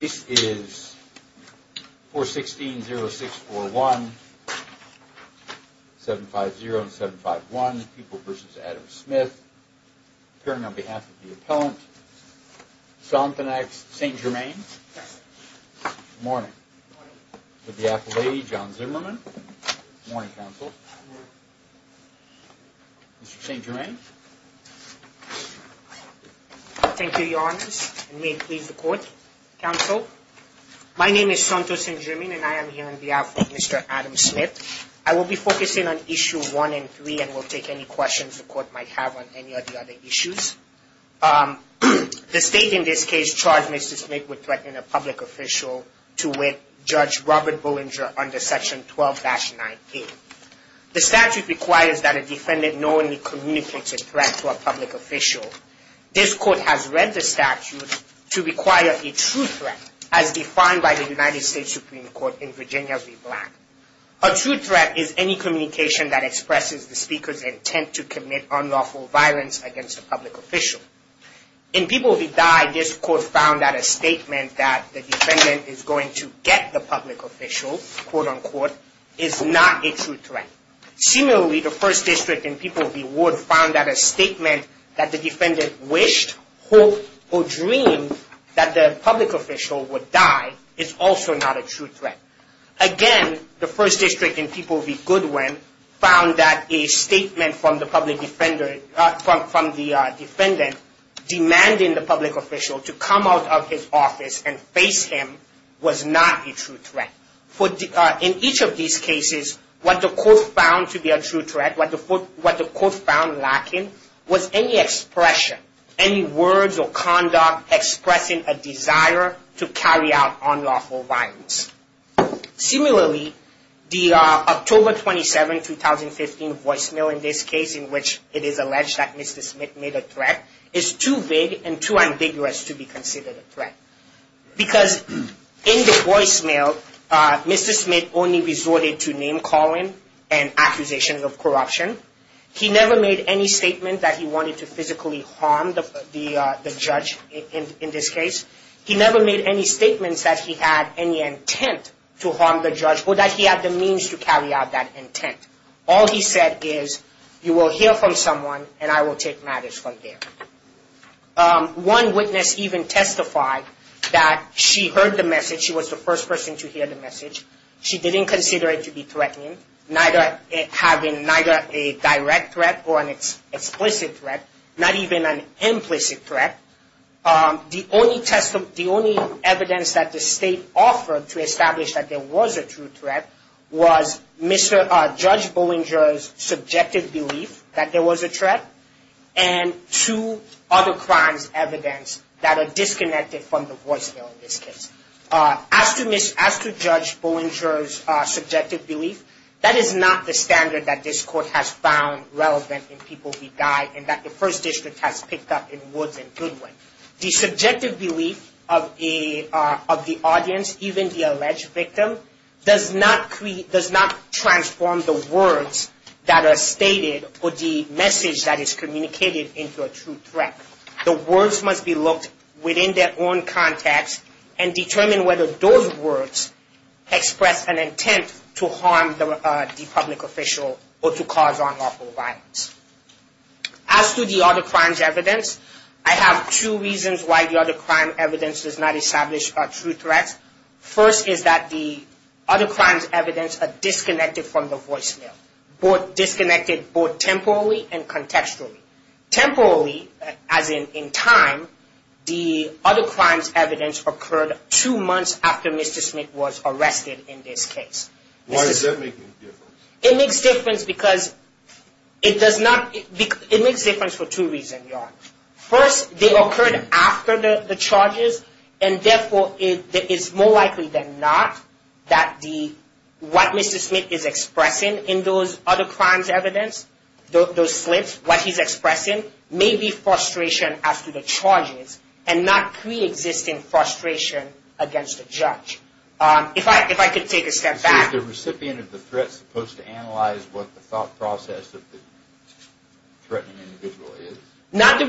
This is 416-0641, 750-751, Pupil v. Adam Smith, appearing on behalf of the appellant, St. Germain. Good morning. With the Appellate, John Zimmerman. Good morning, Counsel. Mr. St. Germain. Thank you, Your Honors, and may it please the Court, Counsel. My name is Santos St. Germain, and I am here on behalf of Mr. Adam Smith. I will be focusing on Issue 1 and 3, and will take any questions the Court might have on any of the other issues. The State, in this case, charged Mr. Smith with threatening a public official to wit Judge Robert Bollinger under Section 12-9A. The statute requires that a defendant knowingly communicates a threat to a public official. This Court has read the statute to require a true threat, as defined by the United States Supreme Court in Virginia v. Black. A true threat is any communication that expresses the speaker's intent to commit unlawful violence against a public official. In People v. Dye, this Court found that a statement that the defendant is going to get the public official, quote-unquote, is not a true threat. Similarly, the First District in People v. Wood found that a statement that the defendant wished, hoped, or dreamed that the public official would die is also not a true threat. Again, the First District in People v. Goodwin found that a statement from the public defender, from the defendant, demanding the public official to come out of his office and face him was not a true threat. In each of these cases, what the Court found to be a true threat, what the Court found lacking, was any expression, any words or conduct expressing a desire to carry out unlawful violence. Similarly, the October 27, 2015 voicemail in this case, in which it is alleged that Mr. Smith made a threat, is too big and too ambiguous to be considered a threat. Because in the voicemail, Mr. Smith only resorted to name-calling and accusations of corruption. He never made any statement that he wanted to physically harm the judge in this case. He never made any statements that he had any intent to harm the judge or that he had the means to carry out that intent. All he said is, you will hear from someone and I will take matters from there. One witness even testified that she heard the message, she was the first person to hear the message. She didn't consider it to be threatening, having neither a direct threat or an explicit threat, not even an implicit threat. The only evidence that the State offered to establish that there was a true threat was Judge Bollinger's subjective belief that there was a threat, and two other crimes' evidence that are disconnected from the voicemail in this case. As to Judge Bollinger's subjective belief, that is not the standard that this Court has found relevant in People Beguiled and that the First District has picked up in Woods and Goodwin. The subjective belief of the audience, even the alleged victim, does not transform the words that are stated or the message that is communicated into a true threat. The words must be looked within their own context and determine whether those words express an intent to harm the public official or to cause unlawful violence. As to the other crimes' evidence, I have two reasons why the other crime evidence does not establish a true threat. First is that the other crimes' evidence are disconnected from the voicemail, disconnected both temporally and contextually. Temporally, as in time, the other crimes' evidence occurred two months after Mr. Smith was arrested in this case. Why does that make a difference? It makes a difference because it does not, it makes a difference for two reasons, Your Honor. First, they occurred after the charges and therefore it is more likely than not that what Mr. Smith is expressing in those other crimes' evidence, those slips, what he's expressing, may be frustration as to the charges and not pre-existing frustration against the judge. If I could take a step back. Is the recipient of the threat supposed to analyze what the thought process of the threatening individual is? Not the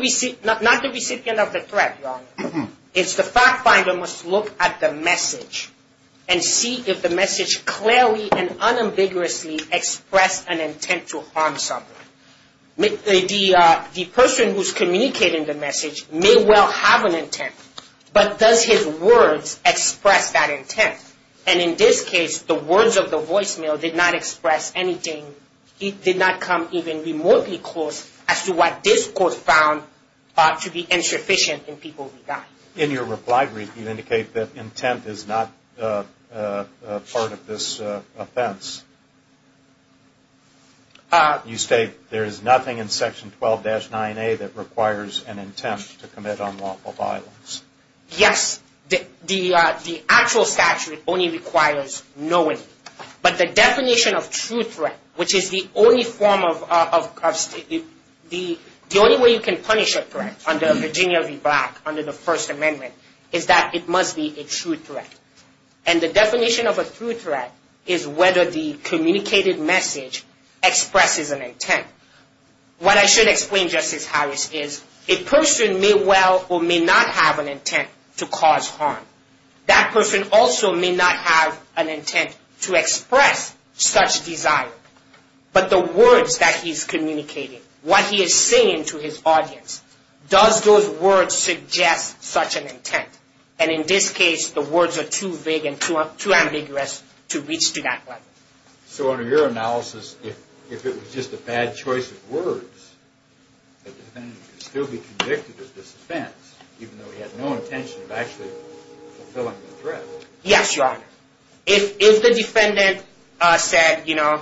recipient of the threat, Your Honor. It's the fact finder must look at the message and see if the message clearly and unambiguously expressed an intent to harm someone. The person who's communicating the message may well have an intent, but does his words express that intent? And in this case, the words of the voicemail did not express anything. It did not come even remotely close as to what this court found to be insufficient in people's regard. In your reply brief, you indicate that intent is not part of this offense. You state there is nothing in Section 12-9A that requires an intent to commit unlawful violence. Yes, the actual statute only requires knowingly. But the definition of true threat, which is the only way you can punish a threat under Virginia v. Black, under the First Amendment, is that it must be a true threat. And the definition of a true threat is whether the communicated message expresses an intent. What I should explain, Justice Harris, is a person may well or may not have an intent to cause harm. That person also may not have an intent to express such desire. But the words that he's communicating, what he is saying to his audience, does those words suggest such an intent? And in this case, the words are too vague and too ambiguous to reach to that level. So under your analysis, if it was just a bad choice of words, the defendant could still be convicted of this offense, even though he had no intention of actually fulfilling the threat. Yes, Your Honor. If the defendant said, you know,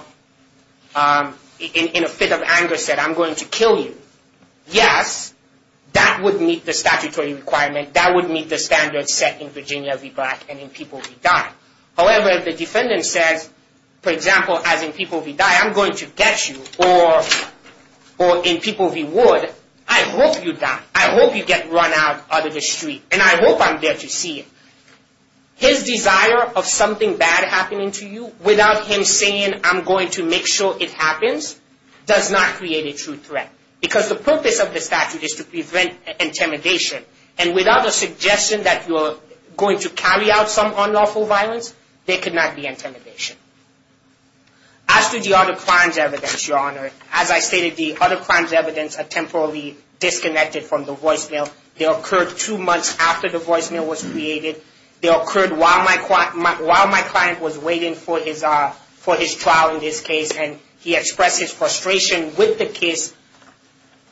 in a fit of anger, said, I'm going to kill you. Yes, that would meet the statutory requirement. That would meet the standards set in Virginia v. Black and in people v. Dodd. However, if the defendant says, for example, as in people v. Dodd, I'm going to get you. Or in people v. Wood, I hope you die. I hope you get run out of the street. And I hope I'm there to see you. His desire of something bad happening to you, without him saying, I'm going to make sure it happens, does not create a true threat. Because the purpose of the statute is to prevent intimidation. And without a suggestion that you're going to carry out some unlawful violence, there could not be intimidation. As to the other crimes evidence, Your Honor, as I stated, the other crimes evidence are temporarily disconnected from the voicemail. They occurred two months after the voicemail was created. They occurred while my client was waiting for his trial in this case. And he expressed his frustration with the case,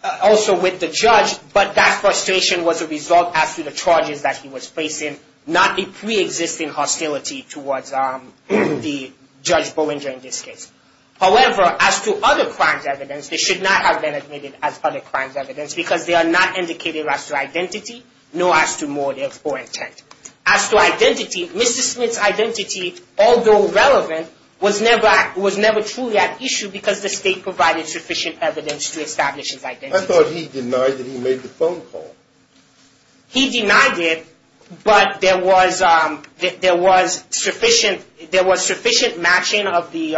also with the judge. But that frustration was a result as to the charges that he was facing. Not a pre-existing hostility towards Judge Bolinger in this case. However, as to other crimes evidence, they should not have been admitted as other crimes evidence. Because they are not indicated as to identity, nor as to motive or intent. As to identity, Mr. Smith's identity, although relevant, was never truly at issue because the state provided sufficient evidence to establish his identity. I thought he denied that he made the phone call. He denied it, but there was sufficient matching of his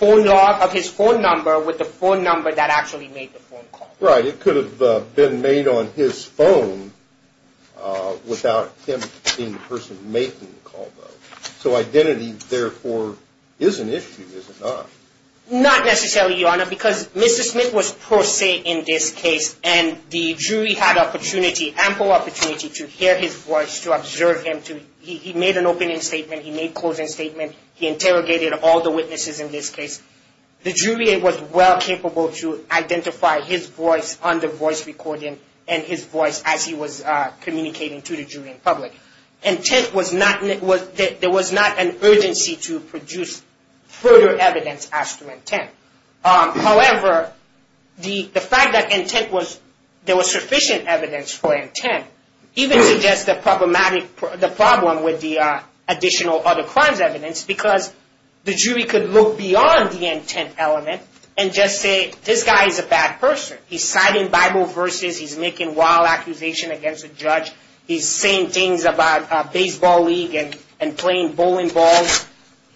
phone number with the phone number that actually made the phone call. Right, it could have been made on his phone without him being the person making the call, though. So identity, therefore, is an issue, is it not? Not necessarily, Your Honor, because Mr. Smith was pro se in this case. And the jury had opportunity, ample opportunity, to hear his voice, to observe him. He made an opening statement, he made a closing statement, he interrogated all the witnesses in this case. The jury was well capable to identify his voice on the voice recording and his voice as he was communicating to the jury and public. Intent was not, there was not an urgency to produce further evidence as to intent. However, the fact that intent was, there was sufficient evidence for intent, even suggests the problematic, the problem with the additional other crimes evidence. Because the jury could look beyond the intent element and just say, this guy is a bad person. He's citing Bible verses, he's making wild accusations against a judge, he's saying things about baseball league and playing bowling balls.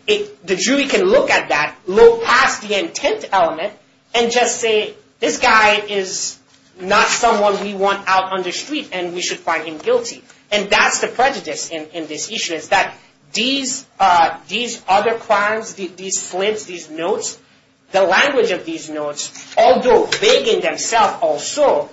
The jury can look at that, look past the intent element and just say, this guy is not someone we want out on the street and we should find him guilty. And that's the prejudice in this issue, is that these other crimes, these slips, these notes, the language of these notes, although vague in themselves also,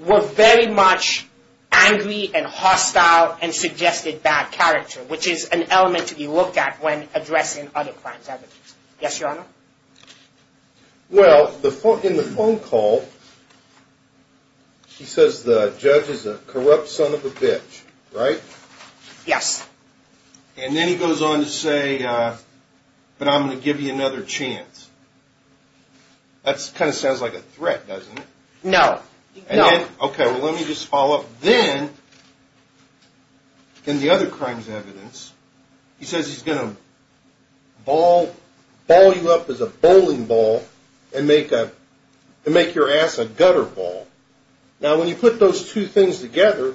were very much angry and hostile and suggested bad character, which is an element to be looked at when addressing other crimes evidence. Yes, your honor? Well, in the phone call, he says the judge is a corrupt son of a bitch, right? Yes. And then he goes on to say, but I'm going to give you another chance. That kind of sounds like a threat, doesn't it? No, no. Okay, well let me just follow up. Then, in the other crimes evidence, he says he's going to ball you up as a bowling ball and make your ass a gutter ball. Now, when you put those two things together,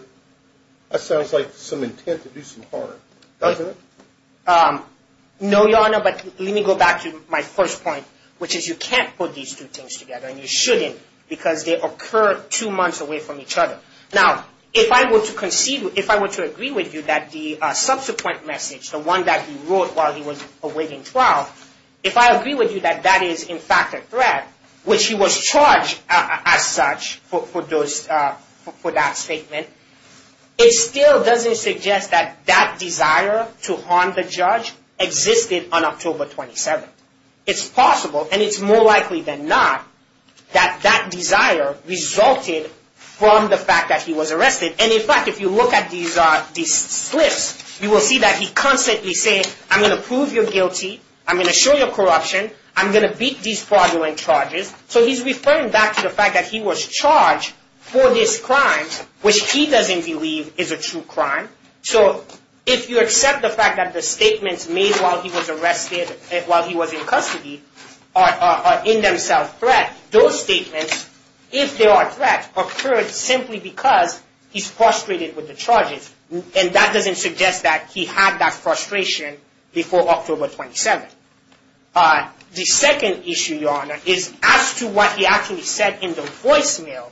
that sounds like some intent to do some harm, doesn't it? No, your honor, but let me go back to my first point, which is you can't put these two things together and you shouldn't because they occur two months away from each other. Now, if I were to agree with you that the subsequent message, the one that he wrote while he was awaiting trial, if I agree with you that that is in fact a threat, which he was charged as such for that statement, it still doesn't suggest that that desire to harm the judge existed on October 27th. It's possible, and it's more likely than not, that that desire resulted from the fact that he was arrested. And in fact, if you look at these slips, you will see that he constantly says, I'm going to prove you guilty, I'm going to show you corruption, I'm going to beat these fraudulent charges. So, he's referring back to the fact that he was charged for these crimes, which he doesn't believe is a true crime. So, if you accept the fact that the statements made while he was arrested, while he was in custody, are in themselves threats. Those statements, if they are threats, occurred simply because he's frustrated with the charges. And that doesn't suggest that he had that frustration before October 27th. The second issue, Your Honor, is as to what he actually said in the voicemail,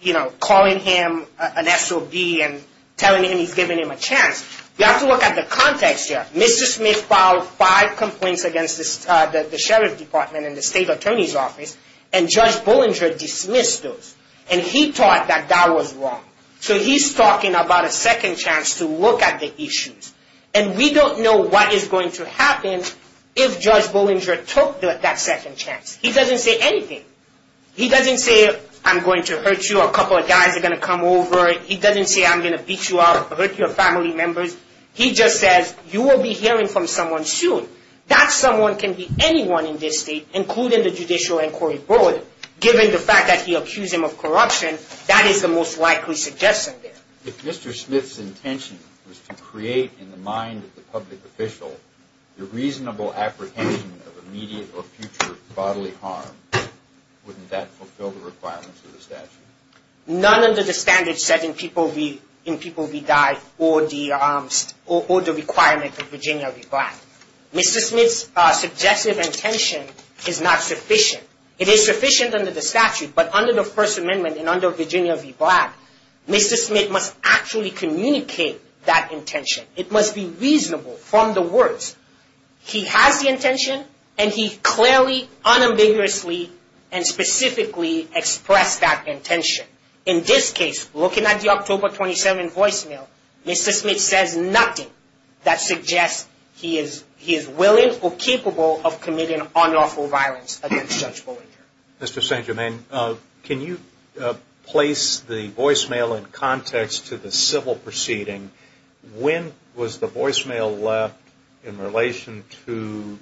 you know, calling him an SOB and telling him he's giving him a chance. We have to look at the context here. Mr. Smith filed five complaints against the Sheriff's Department and the State Attorney's Office, and Judge Bollinger dismissed those. And he thought that that was wrong. So, he's talking about a second chance to look at the issues. And we don't know what is going to happen if Judge Bollinger took that second chance. He doesn't say anything. He doesn't say, I'm going to hurt you, a couple of guys are going to come over. He doesn't say, I'm going to beat you up, hurt your family members. He just says, you will be hearing from someone soon. That someone can be anyone in this state, including the Judicial Inquiry Board. Given the fact that he accused him of corruption, that is the most likely suggestion there. If Mr. Smith's intention was to create, in the mind of the public official, the reasonable apprehension of immediate or future bodily harm, wouldn't that fulfill the requirements of the statute? None under the standard setting, people be died, or the requirement that Virginia be black. Mr. Smith's suggestive intention is not sufficient. It is sufficient under the statute, but under the First Amendment, and under Virginia be black, Mr. Smith must actually communicate that intention. It must be reasonable from the words. He has the intention, and he clearly, unambiguously, and specifically expressed that intention. In this case, looking at the October 27 voicemail, Mr. Smith says nothing that suggests he is willing or capable of committing unlawful violence against Judge Bollinger. Mr. St. Germain, can you place the voicemail in context to the civil proceeding? When was the voicemail left in relation to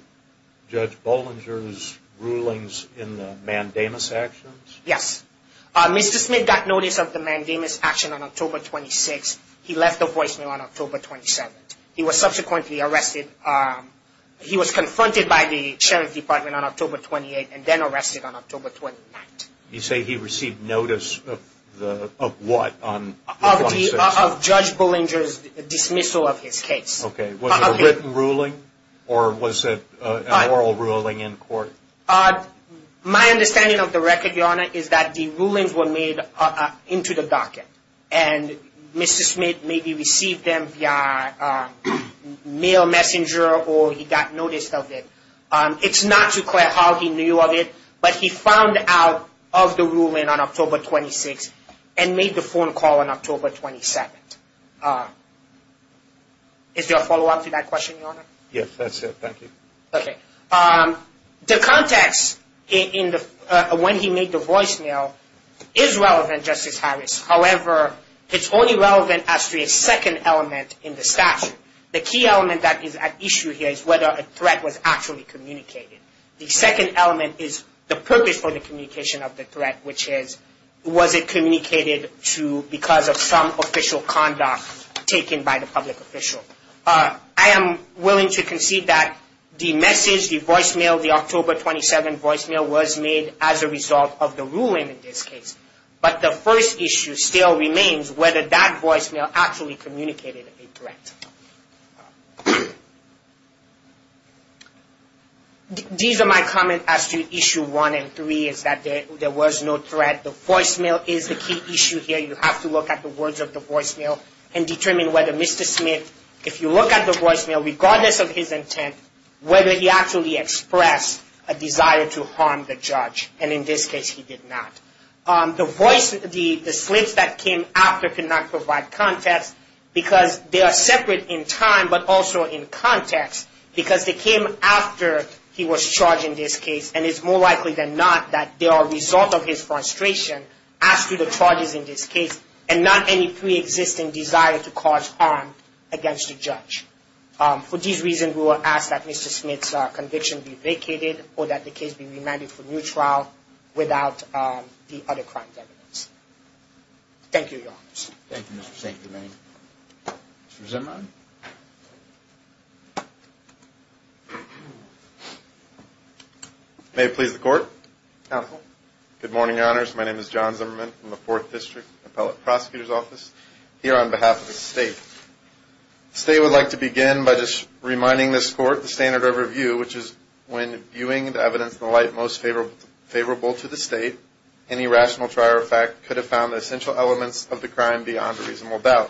Judge Bollinger's rulings in the mandamus actions? Mr. Smith got notice of the mandamus action on October 26. He left the voicemail on October 27. He was subsequently arrested. He was confronted by the Sheriff's Department on October 28 and then arrested on October 29. You say he received notice of what? Of Judge Bollinger's dismissal of his case. Was it a written ruling? Or was it an oral ruling in court? My understanding of the record, Your Honor, is that the rulings were made into the docket and Mr. Smith maybe received them via mail messenger or he got noticed of it. It's not too clear how he knew of it, but he found out of the ruling on October 26 and made the phone call on October 27. Is there a follow-up to that question, Your Honor? Yes, that's it. Thank you. The context when he made the voicemail is relevant, Justice Harris. However, it's only relevant as to a second element in the statute. The key element that is at issue here is whether a threat was actually communicated. The second element is the purpose for the communication of the threat, which is was it communicated to because of some official conduct taken by the public official. I am willing to concede that the message, the voicemail, the October 27 voicemail was made as a result of the ruling in this case, but the first issue still remains whether that voicemail actually communicated a threat. These are my comments as to issue 1 and 3, is that there was no threat. The voicemail is the key issue here. You have to look at the words of the voicemail and determine whether Mr. Smith, if you look at the voicemail regardless of his intent, whether he actually expressed a desire to harm the judge, and in this case he did not. The voice, the slits that came after cannot provide context because they are separate in time, but also in context because they came after he was charged in this case, and it's more likely than not that they are a result of his frustration as to the charges in this case, and not any pre-existing desire to cause harm or that the case be remanded for new trial without the other crimes evidence. Thank you, Your Honors. Thank you, Mr. Zimmerman. May it please the Court. Counsel. Good morning, Your Honors. My name is John Zimmerman from the 4th District Appellate Prosecutor's Office, here on behalf of the State. The State would like to begin by just reminding this Court the standard of review, which is when viewing the evidence in the light most favorable to the State, any rational trial or fact could have found the essential elements of the crime beyond a reasonable doubt.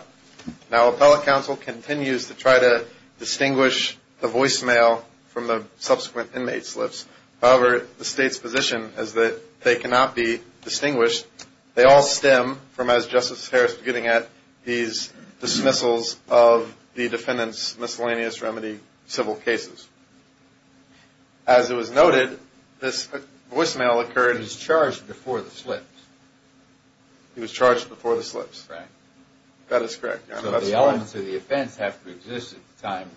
Now, Appellate Counsel continues to try to distinguish the voicemail from the subsequent inmate slips. However, the State's position is that they cannot be distinguished. They all stem from, as Justice Harris was getting at, these dismissals of the defendant's civil cases. As it was noted, this voicemail occurred... He was charged before the slips. He was charged before the slips. That is correct, Your Honor. So the elements of the offense have to exist at the time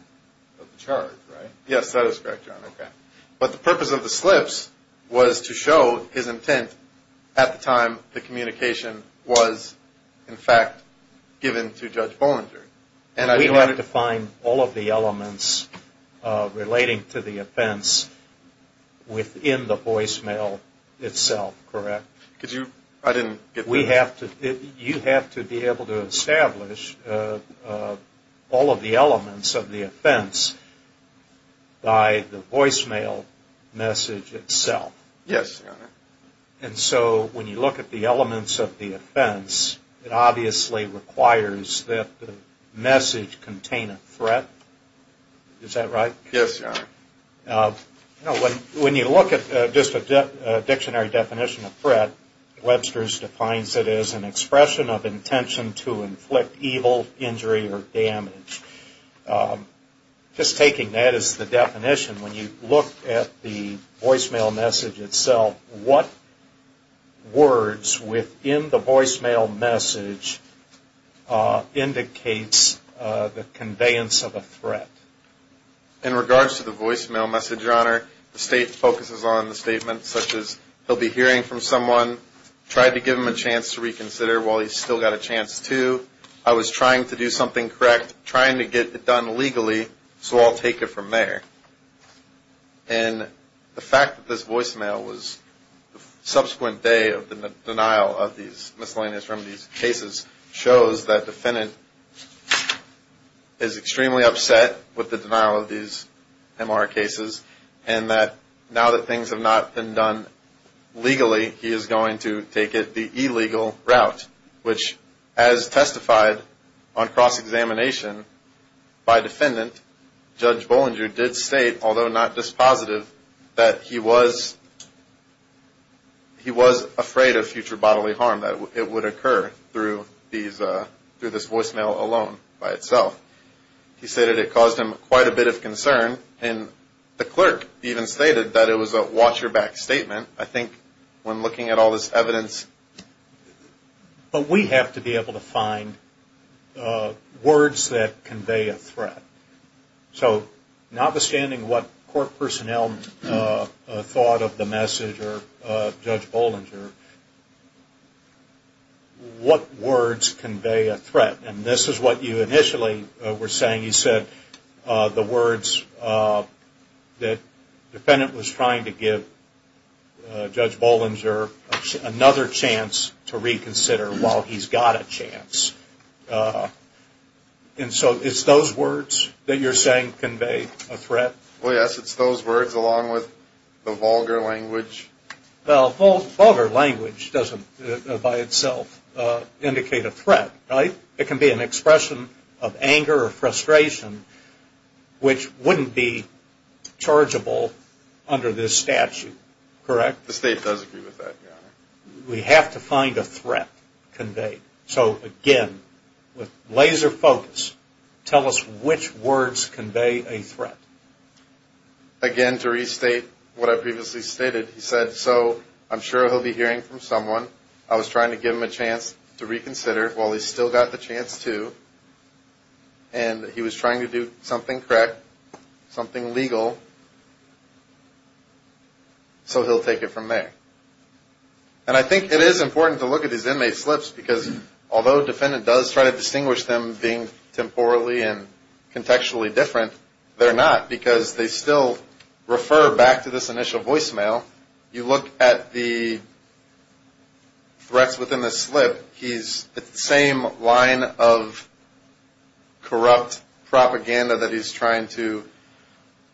of the charge, right? Yes, that is correct, Your Honor. But the purpose of the slips was to show his intent at the time the communication was in fact given to Judge Bollinger. We don't have to find all of the elements relating to the offense within the voicemail itself, correct? I didn't get that. You have to be able to establish all of the elements of the offense by the voicemail message itself. Yes, Your Honor. And so when you look at the elements of the offense, it obviously requires that the voicemail message itself be a threat. Is that right? Yes, Your Honor. When you look at just a dictionary definition of threat, Webster's defines it as an expression of intention to inflict evil, injury, or damage. Just taking that as the definition, when you look at the voicemail message itself, what words within the voicemail message indicates the conveyance of a threat? In regards to the voicemail message, Your Honor, the state focuses on the statement such as he'll be hearing from someone, tried to give him a chance to reconsider while he's still got a chance to, I was trying to do something correct, trying to get it done legally, so I'll take it from there. And the fact that this voicemail was subsequent day of the denial of these miscellaneous remedies cases shows that the defendant is extremely upset with the denial of these MR cases and that now that things have not been done legally, he is going to take it the illegal route, which as testified on cross-examination by defendant, Judge Bollinger did state, although not dispositive, that he was afraid of future bodily harm that it would occur through this voicemail alone by itself. He stated it caused him quite a bit of concern and the clerk even stated that it was a watch your back statement. I think when looking at all this evidence. But we have to be able to find words that convey a threat. So notwithstanding what court personnel thought of the message or Judge Bollinger, what words convey a threat? And this is what you initially were saying. You said the words that the defendant was trying to give Judge Bollinger another chance to reconsider while he's got a chance. And so it's those words that you're saying convey a threat? Well yes, it's those words along with the vulgar language. Well vulgar language doesn't by itself indicate a threat, right? It can be an expression of anger or frustration which wouldn't be chargeable under this statute, correct? The state does agree with that. We have to find a threat conveyed. So again, with laser focus, tell us which words convey a threat. Again to restate what I previously stated, he said, so I'm sure he'll be hearing from someone. I was trying to give him a chance to reconsider while he's still got the chance to. And he was trying to do something correct. Something legal. So he'll take it from there. And I think it is important to look at these inmate slips because although a defendant does try to distinguish them being temporally and contextually different, they're not because they still refer back to this initial voicemail. You look at the threats within the slip. It's the same line of corrupt propaganda that he's trying to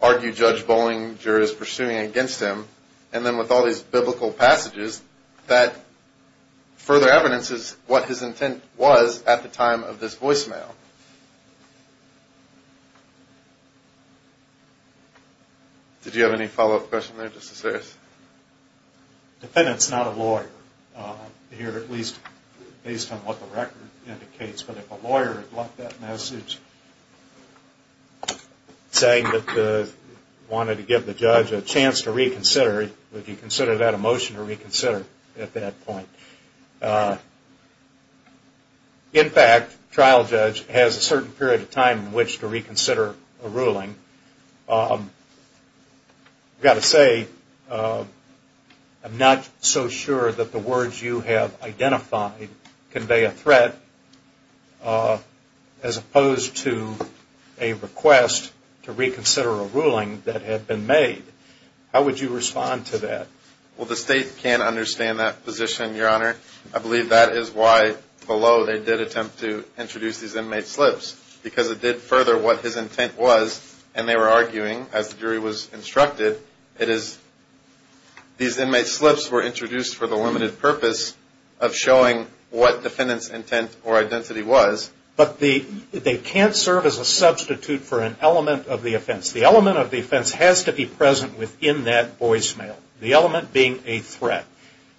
argue Judge Bollinger is pursuing against him. And then with all these biblical passages that further evidences what his intent was at the time of this voicemail. Did you have any follow-up question there, Justice Harris? Defendant's not a lawyer. Here at least based on what the record indicates. But if a lawyer had left that message saying that he wanted to give the judge a chance to reconsider, would he consider that a motion to reconsider at that point? In fact, trial judge has a certain period of time in which to reconsider a ruling. I've got to say I'm not so sure that the words you have identified convey a threat as opposed to a request to reconsider a ruling that had been made. How would you respond to that? Well, the state can understand that position, Your Honor. I believe that is why below they did attempt to introduce these inmate slips. Because it did further what his intent was. And they were arguing, as the jury was instructed, it is these inmate slips were introduced for the limited purpose of showing what defendant's intent or identity was. But they can't serve as a substitute for an element of the offense. The element of the offense has to be present within that voicemail. The element being a threat.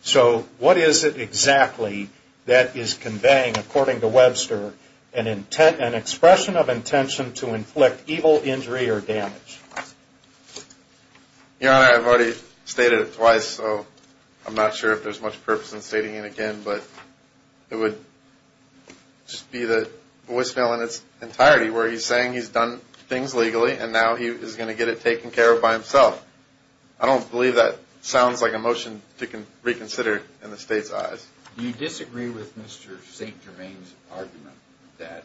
So what is it exactly that is conveying, according to Webster, an expression of intention to inflict evil injury or damage? Your Honor, I've already stated it twice, so I'm not sure if there's much purpose in stating it again. But it would just be the voicemail in its entirety where he's saying he's done things legally and now he's going to get it taken care of by himself. I don't believe that sounds like a motion to reconsider in the state's eyes. Do you disagree with Mr. St. Germain's argument that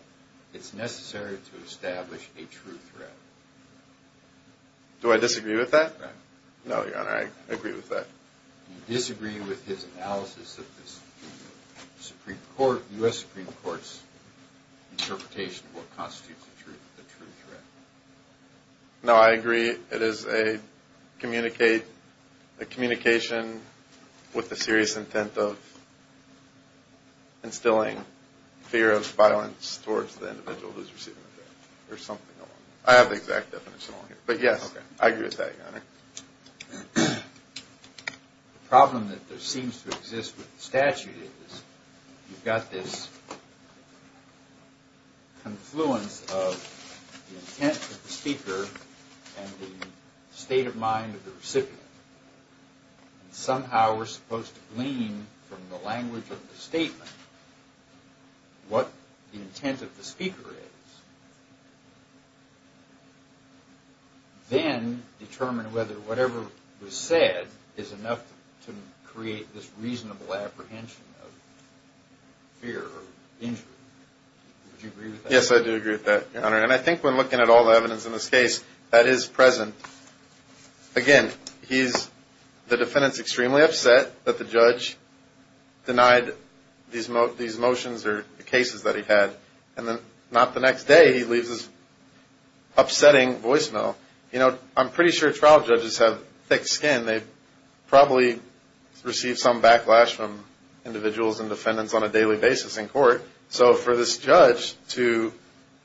it's necessary to establish a true threat? Do I disagree with that? No, Your Honor, I agree with that. Do you disagree with his analysis of this Supreme Court, U.S. Supreme Court's interpretation of what constitutes a true threat? No, I agree it is a communication with the serious intent of instilling fear of violence towards the individual who's receiving the threat or something along those lines. I have the exact definition on here. But yes, I agree with that, Your Honor. The problem that there seems to exist with the statute is you've got this confluence of the intent of the speaker and the state of mind of the recipient. Somehow we're supposed to glean from the language of the statement what the intent of the speaker is. Then determine whether whatever was said is enough to create this reasonable apprehension of fear or danger. Do you agree with that? Yes, I do agree with that, Your Honor. And I think when looking at all the evidence in this case, that is present. Again, the defendant's extremely upset that the judge denied these motions or cases that he had. And then not the next day, he leaves this upsetting voicemail. You know, I'm pretty sure trial judges have thick skin. They probably receive some backlash from the court. So for this judge to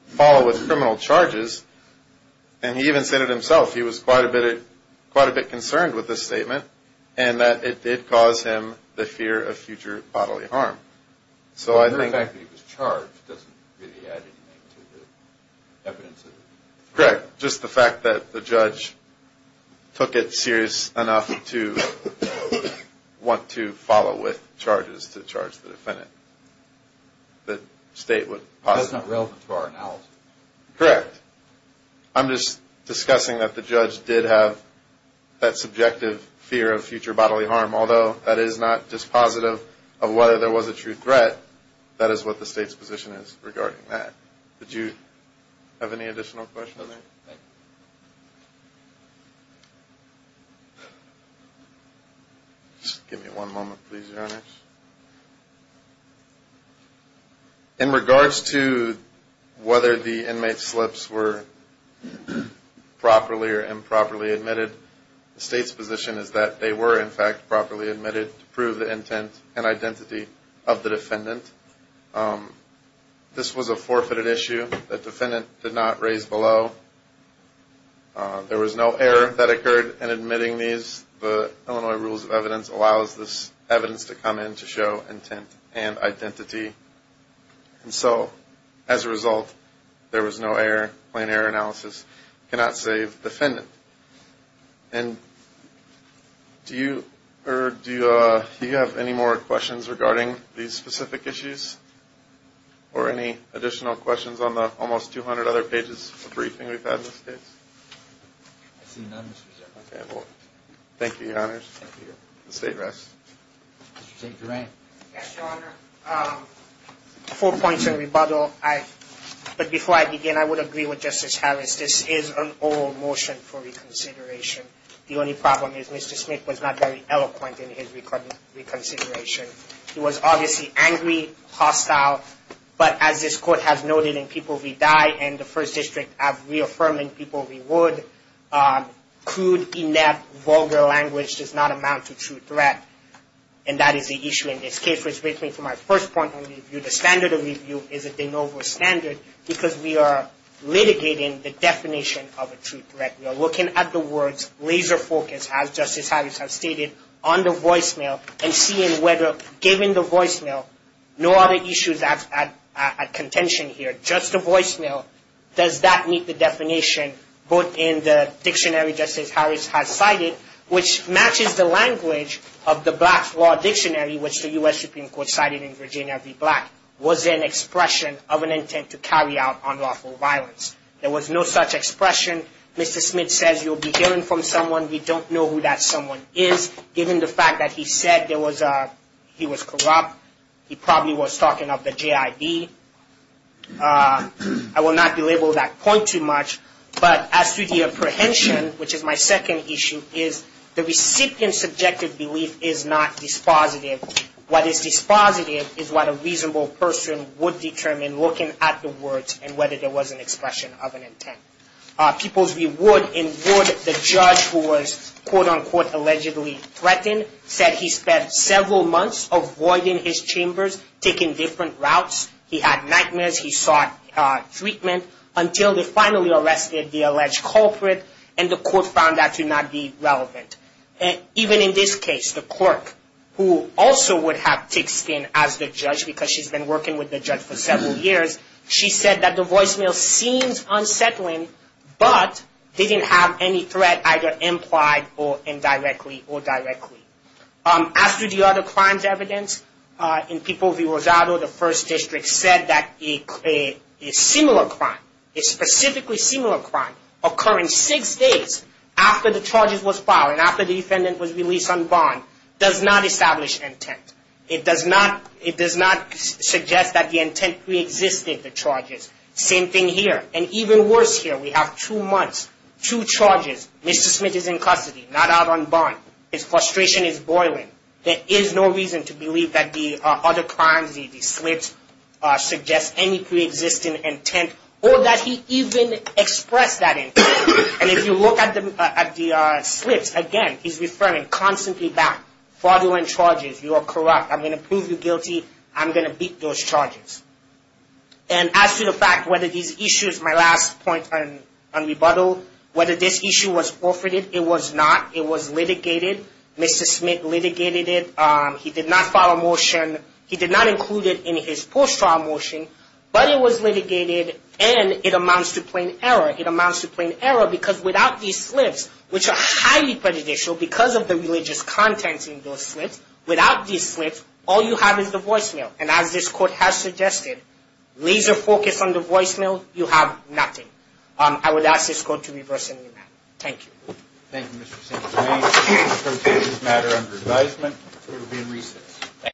follow with criminal charges, and he even said it himself, he was quite a bit concerned with this statement and that it did cause him the fear of future bodily harm. Well, the fact that he was charged doesn't really add anything to the evidence. Correct. Just the fact that the judge took it serious enough to want to follow with charges to charge the defendant. That's not relevant to our analysis. Correct. I'm just discussing that the judge did have that subjective fear of future bodily harm, although that is not dispositive of whether there was a true threat. That is what the state's position is regarding that. Do you have any additional questions? No, thank you. Just give me one moment, please, Your Honor. In regards to whether the inmate slips were properly or improperly admitted, the state's position is that they were, in fact, properly admitted to prove the intent and identity of the defendant. This was a forfeited issue. The defendant did not raise below. There was no error that occurred in admitting these. The Illinois Rules of Evidence allows this evidence to come in to show intent and identity. And so, as a result, there was no error. Plain error analysis cannot save defendant. Do you have any more questions regarding these specific issues or any additional questions on the almost 200 other pages of briefing we've had in this case? I see none, Mr. Chairman. Okay, well, thank you, Your Honor. Thank you. The state rests. Mr. St. Duran. Yes, Your Honor. Four points of rebuttal. But before I begin, I would agree with Justice Harris. This is an oral motion for reconsideration. The only problem is Mr. Smith was not very eloquent in his reconsideration. He was obviously angry, hostile, but as this Court has noted in People Redy and the First Amendment, he would. Crude, inept, vulgar language does not amount to true threat. And that is the issue in this case. Which brings me to my first point of review. The standard of review is a de novo standard because we are litigating the definition of a true threat. We are looking at the words, laser focus, as Justice Harris has stated, on the voicemail and seeing whether, given the voicemail, no other issues at contention here. Just the voicemail. Does that meet the definition, both in the dictionary Justice Harris has cited, which matches the language of the Black Law Dictionary, which the U.S. Supreme Court cited in Virginia v. Black, was an expression of an intent to carry out unlawful violence. There was no such expression. Mr. Smith says you'll be hearing from someone. We don't know who that someone is, given the fact that he said there was a he was corrupt. He probably was talking of the J.I.D. I will not belabor that point too much, but as to the apprehension, which is my second issue, is the recipient's subjective belief is not dispositive. What is dispositive is what a reasonable person would determine looking at the words and whether there was an expression of an intent. People's reward in Wood, the judge who was quote-unquote allegedly threatened, said he spent several months avoiding his chambers, taking different routes. He had nightmares. He sought treatment until they finally arrested the alleged culprit and the court found that to not be relevant. Even in this case, the clerk who also would have ticked in as the judge because she's been working with the judge for several years, she said that the voicemail seems unsettling, but didn't have any threat either implied or indirectly or directly. As to the other crimes evidence, in People v. Rosado, the first district said that a similar crime, a specifically similar crime, occurring six days after the charges was filed and after the defendant was released on bond, does not establish intent. It does not suggest that the intent preexisted, the charges. Same thing here. And even worse here, we have two months, two charges. Mr. Smith is in custody, not out on bond. His frustration is boiling. There is no reason to believe that the other crimes, the slips, suggest any preexisting intent or that he even expressed that intent. And if you look at the slips, again, he's referring constantly back, fraudulent charges. You are corrupt. I'm going to prove you guilty. I'm going to beat those charges. And as to the fact whether these issues, my last point on rebuttal, whether this issue was forfeited, it was not. It was litigated. Mr. Smith litigated it. He did not file a motion. He did not include it in his post-trial motion. But it was litigated and it amounts to plain error. It amounts to plain error because without these slips, which are highly prejudicial because of the religious contents in those slips, without these slips, all you have is the voicemail. And as this court has suggested, laser focus on the voicemail, you have nothing. I would ask this court to reverse any of that. Thank you.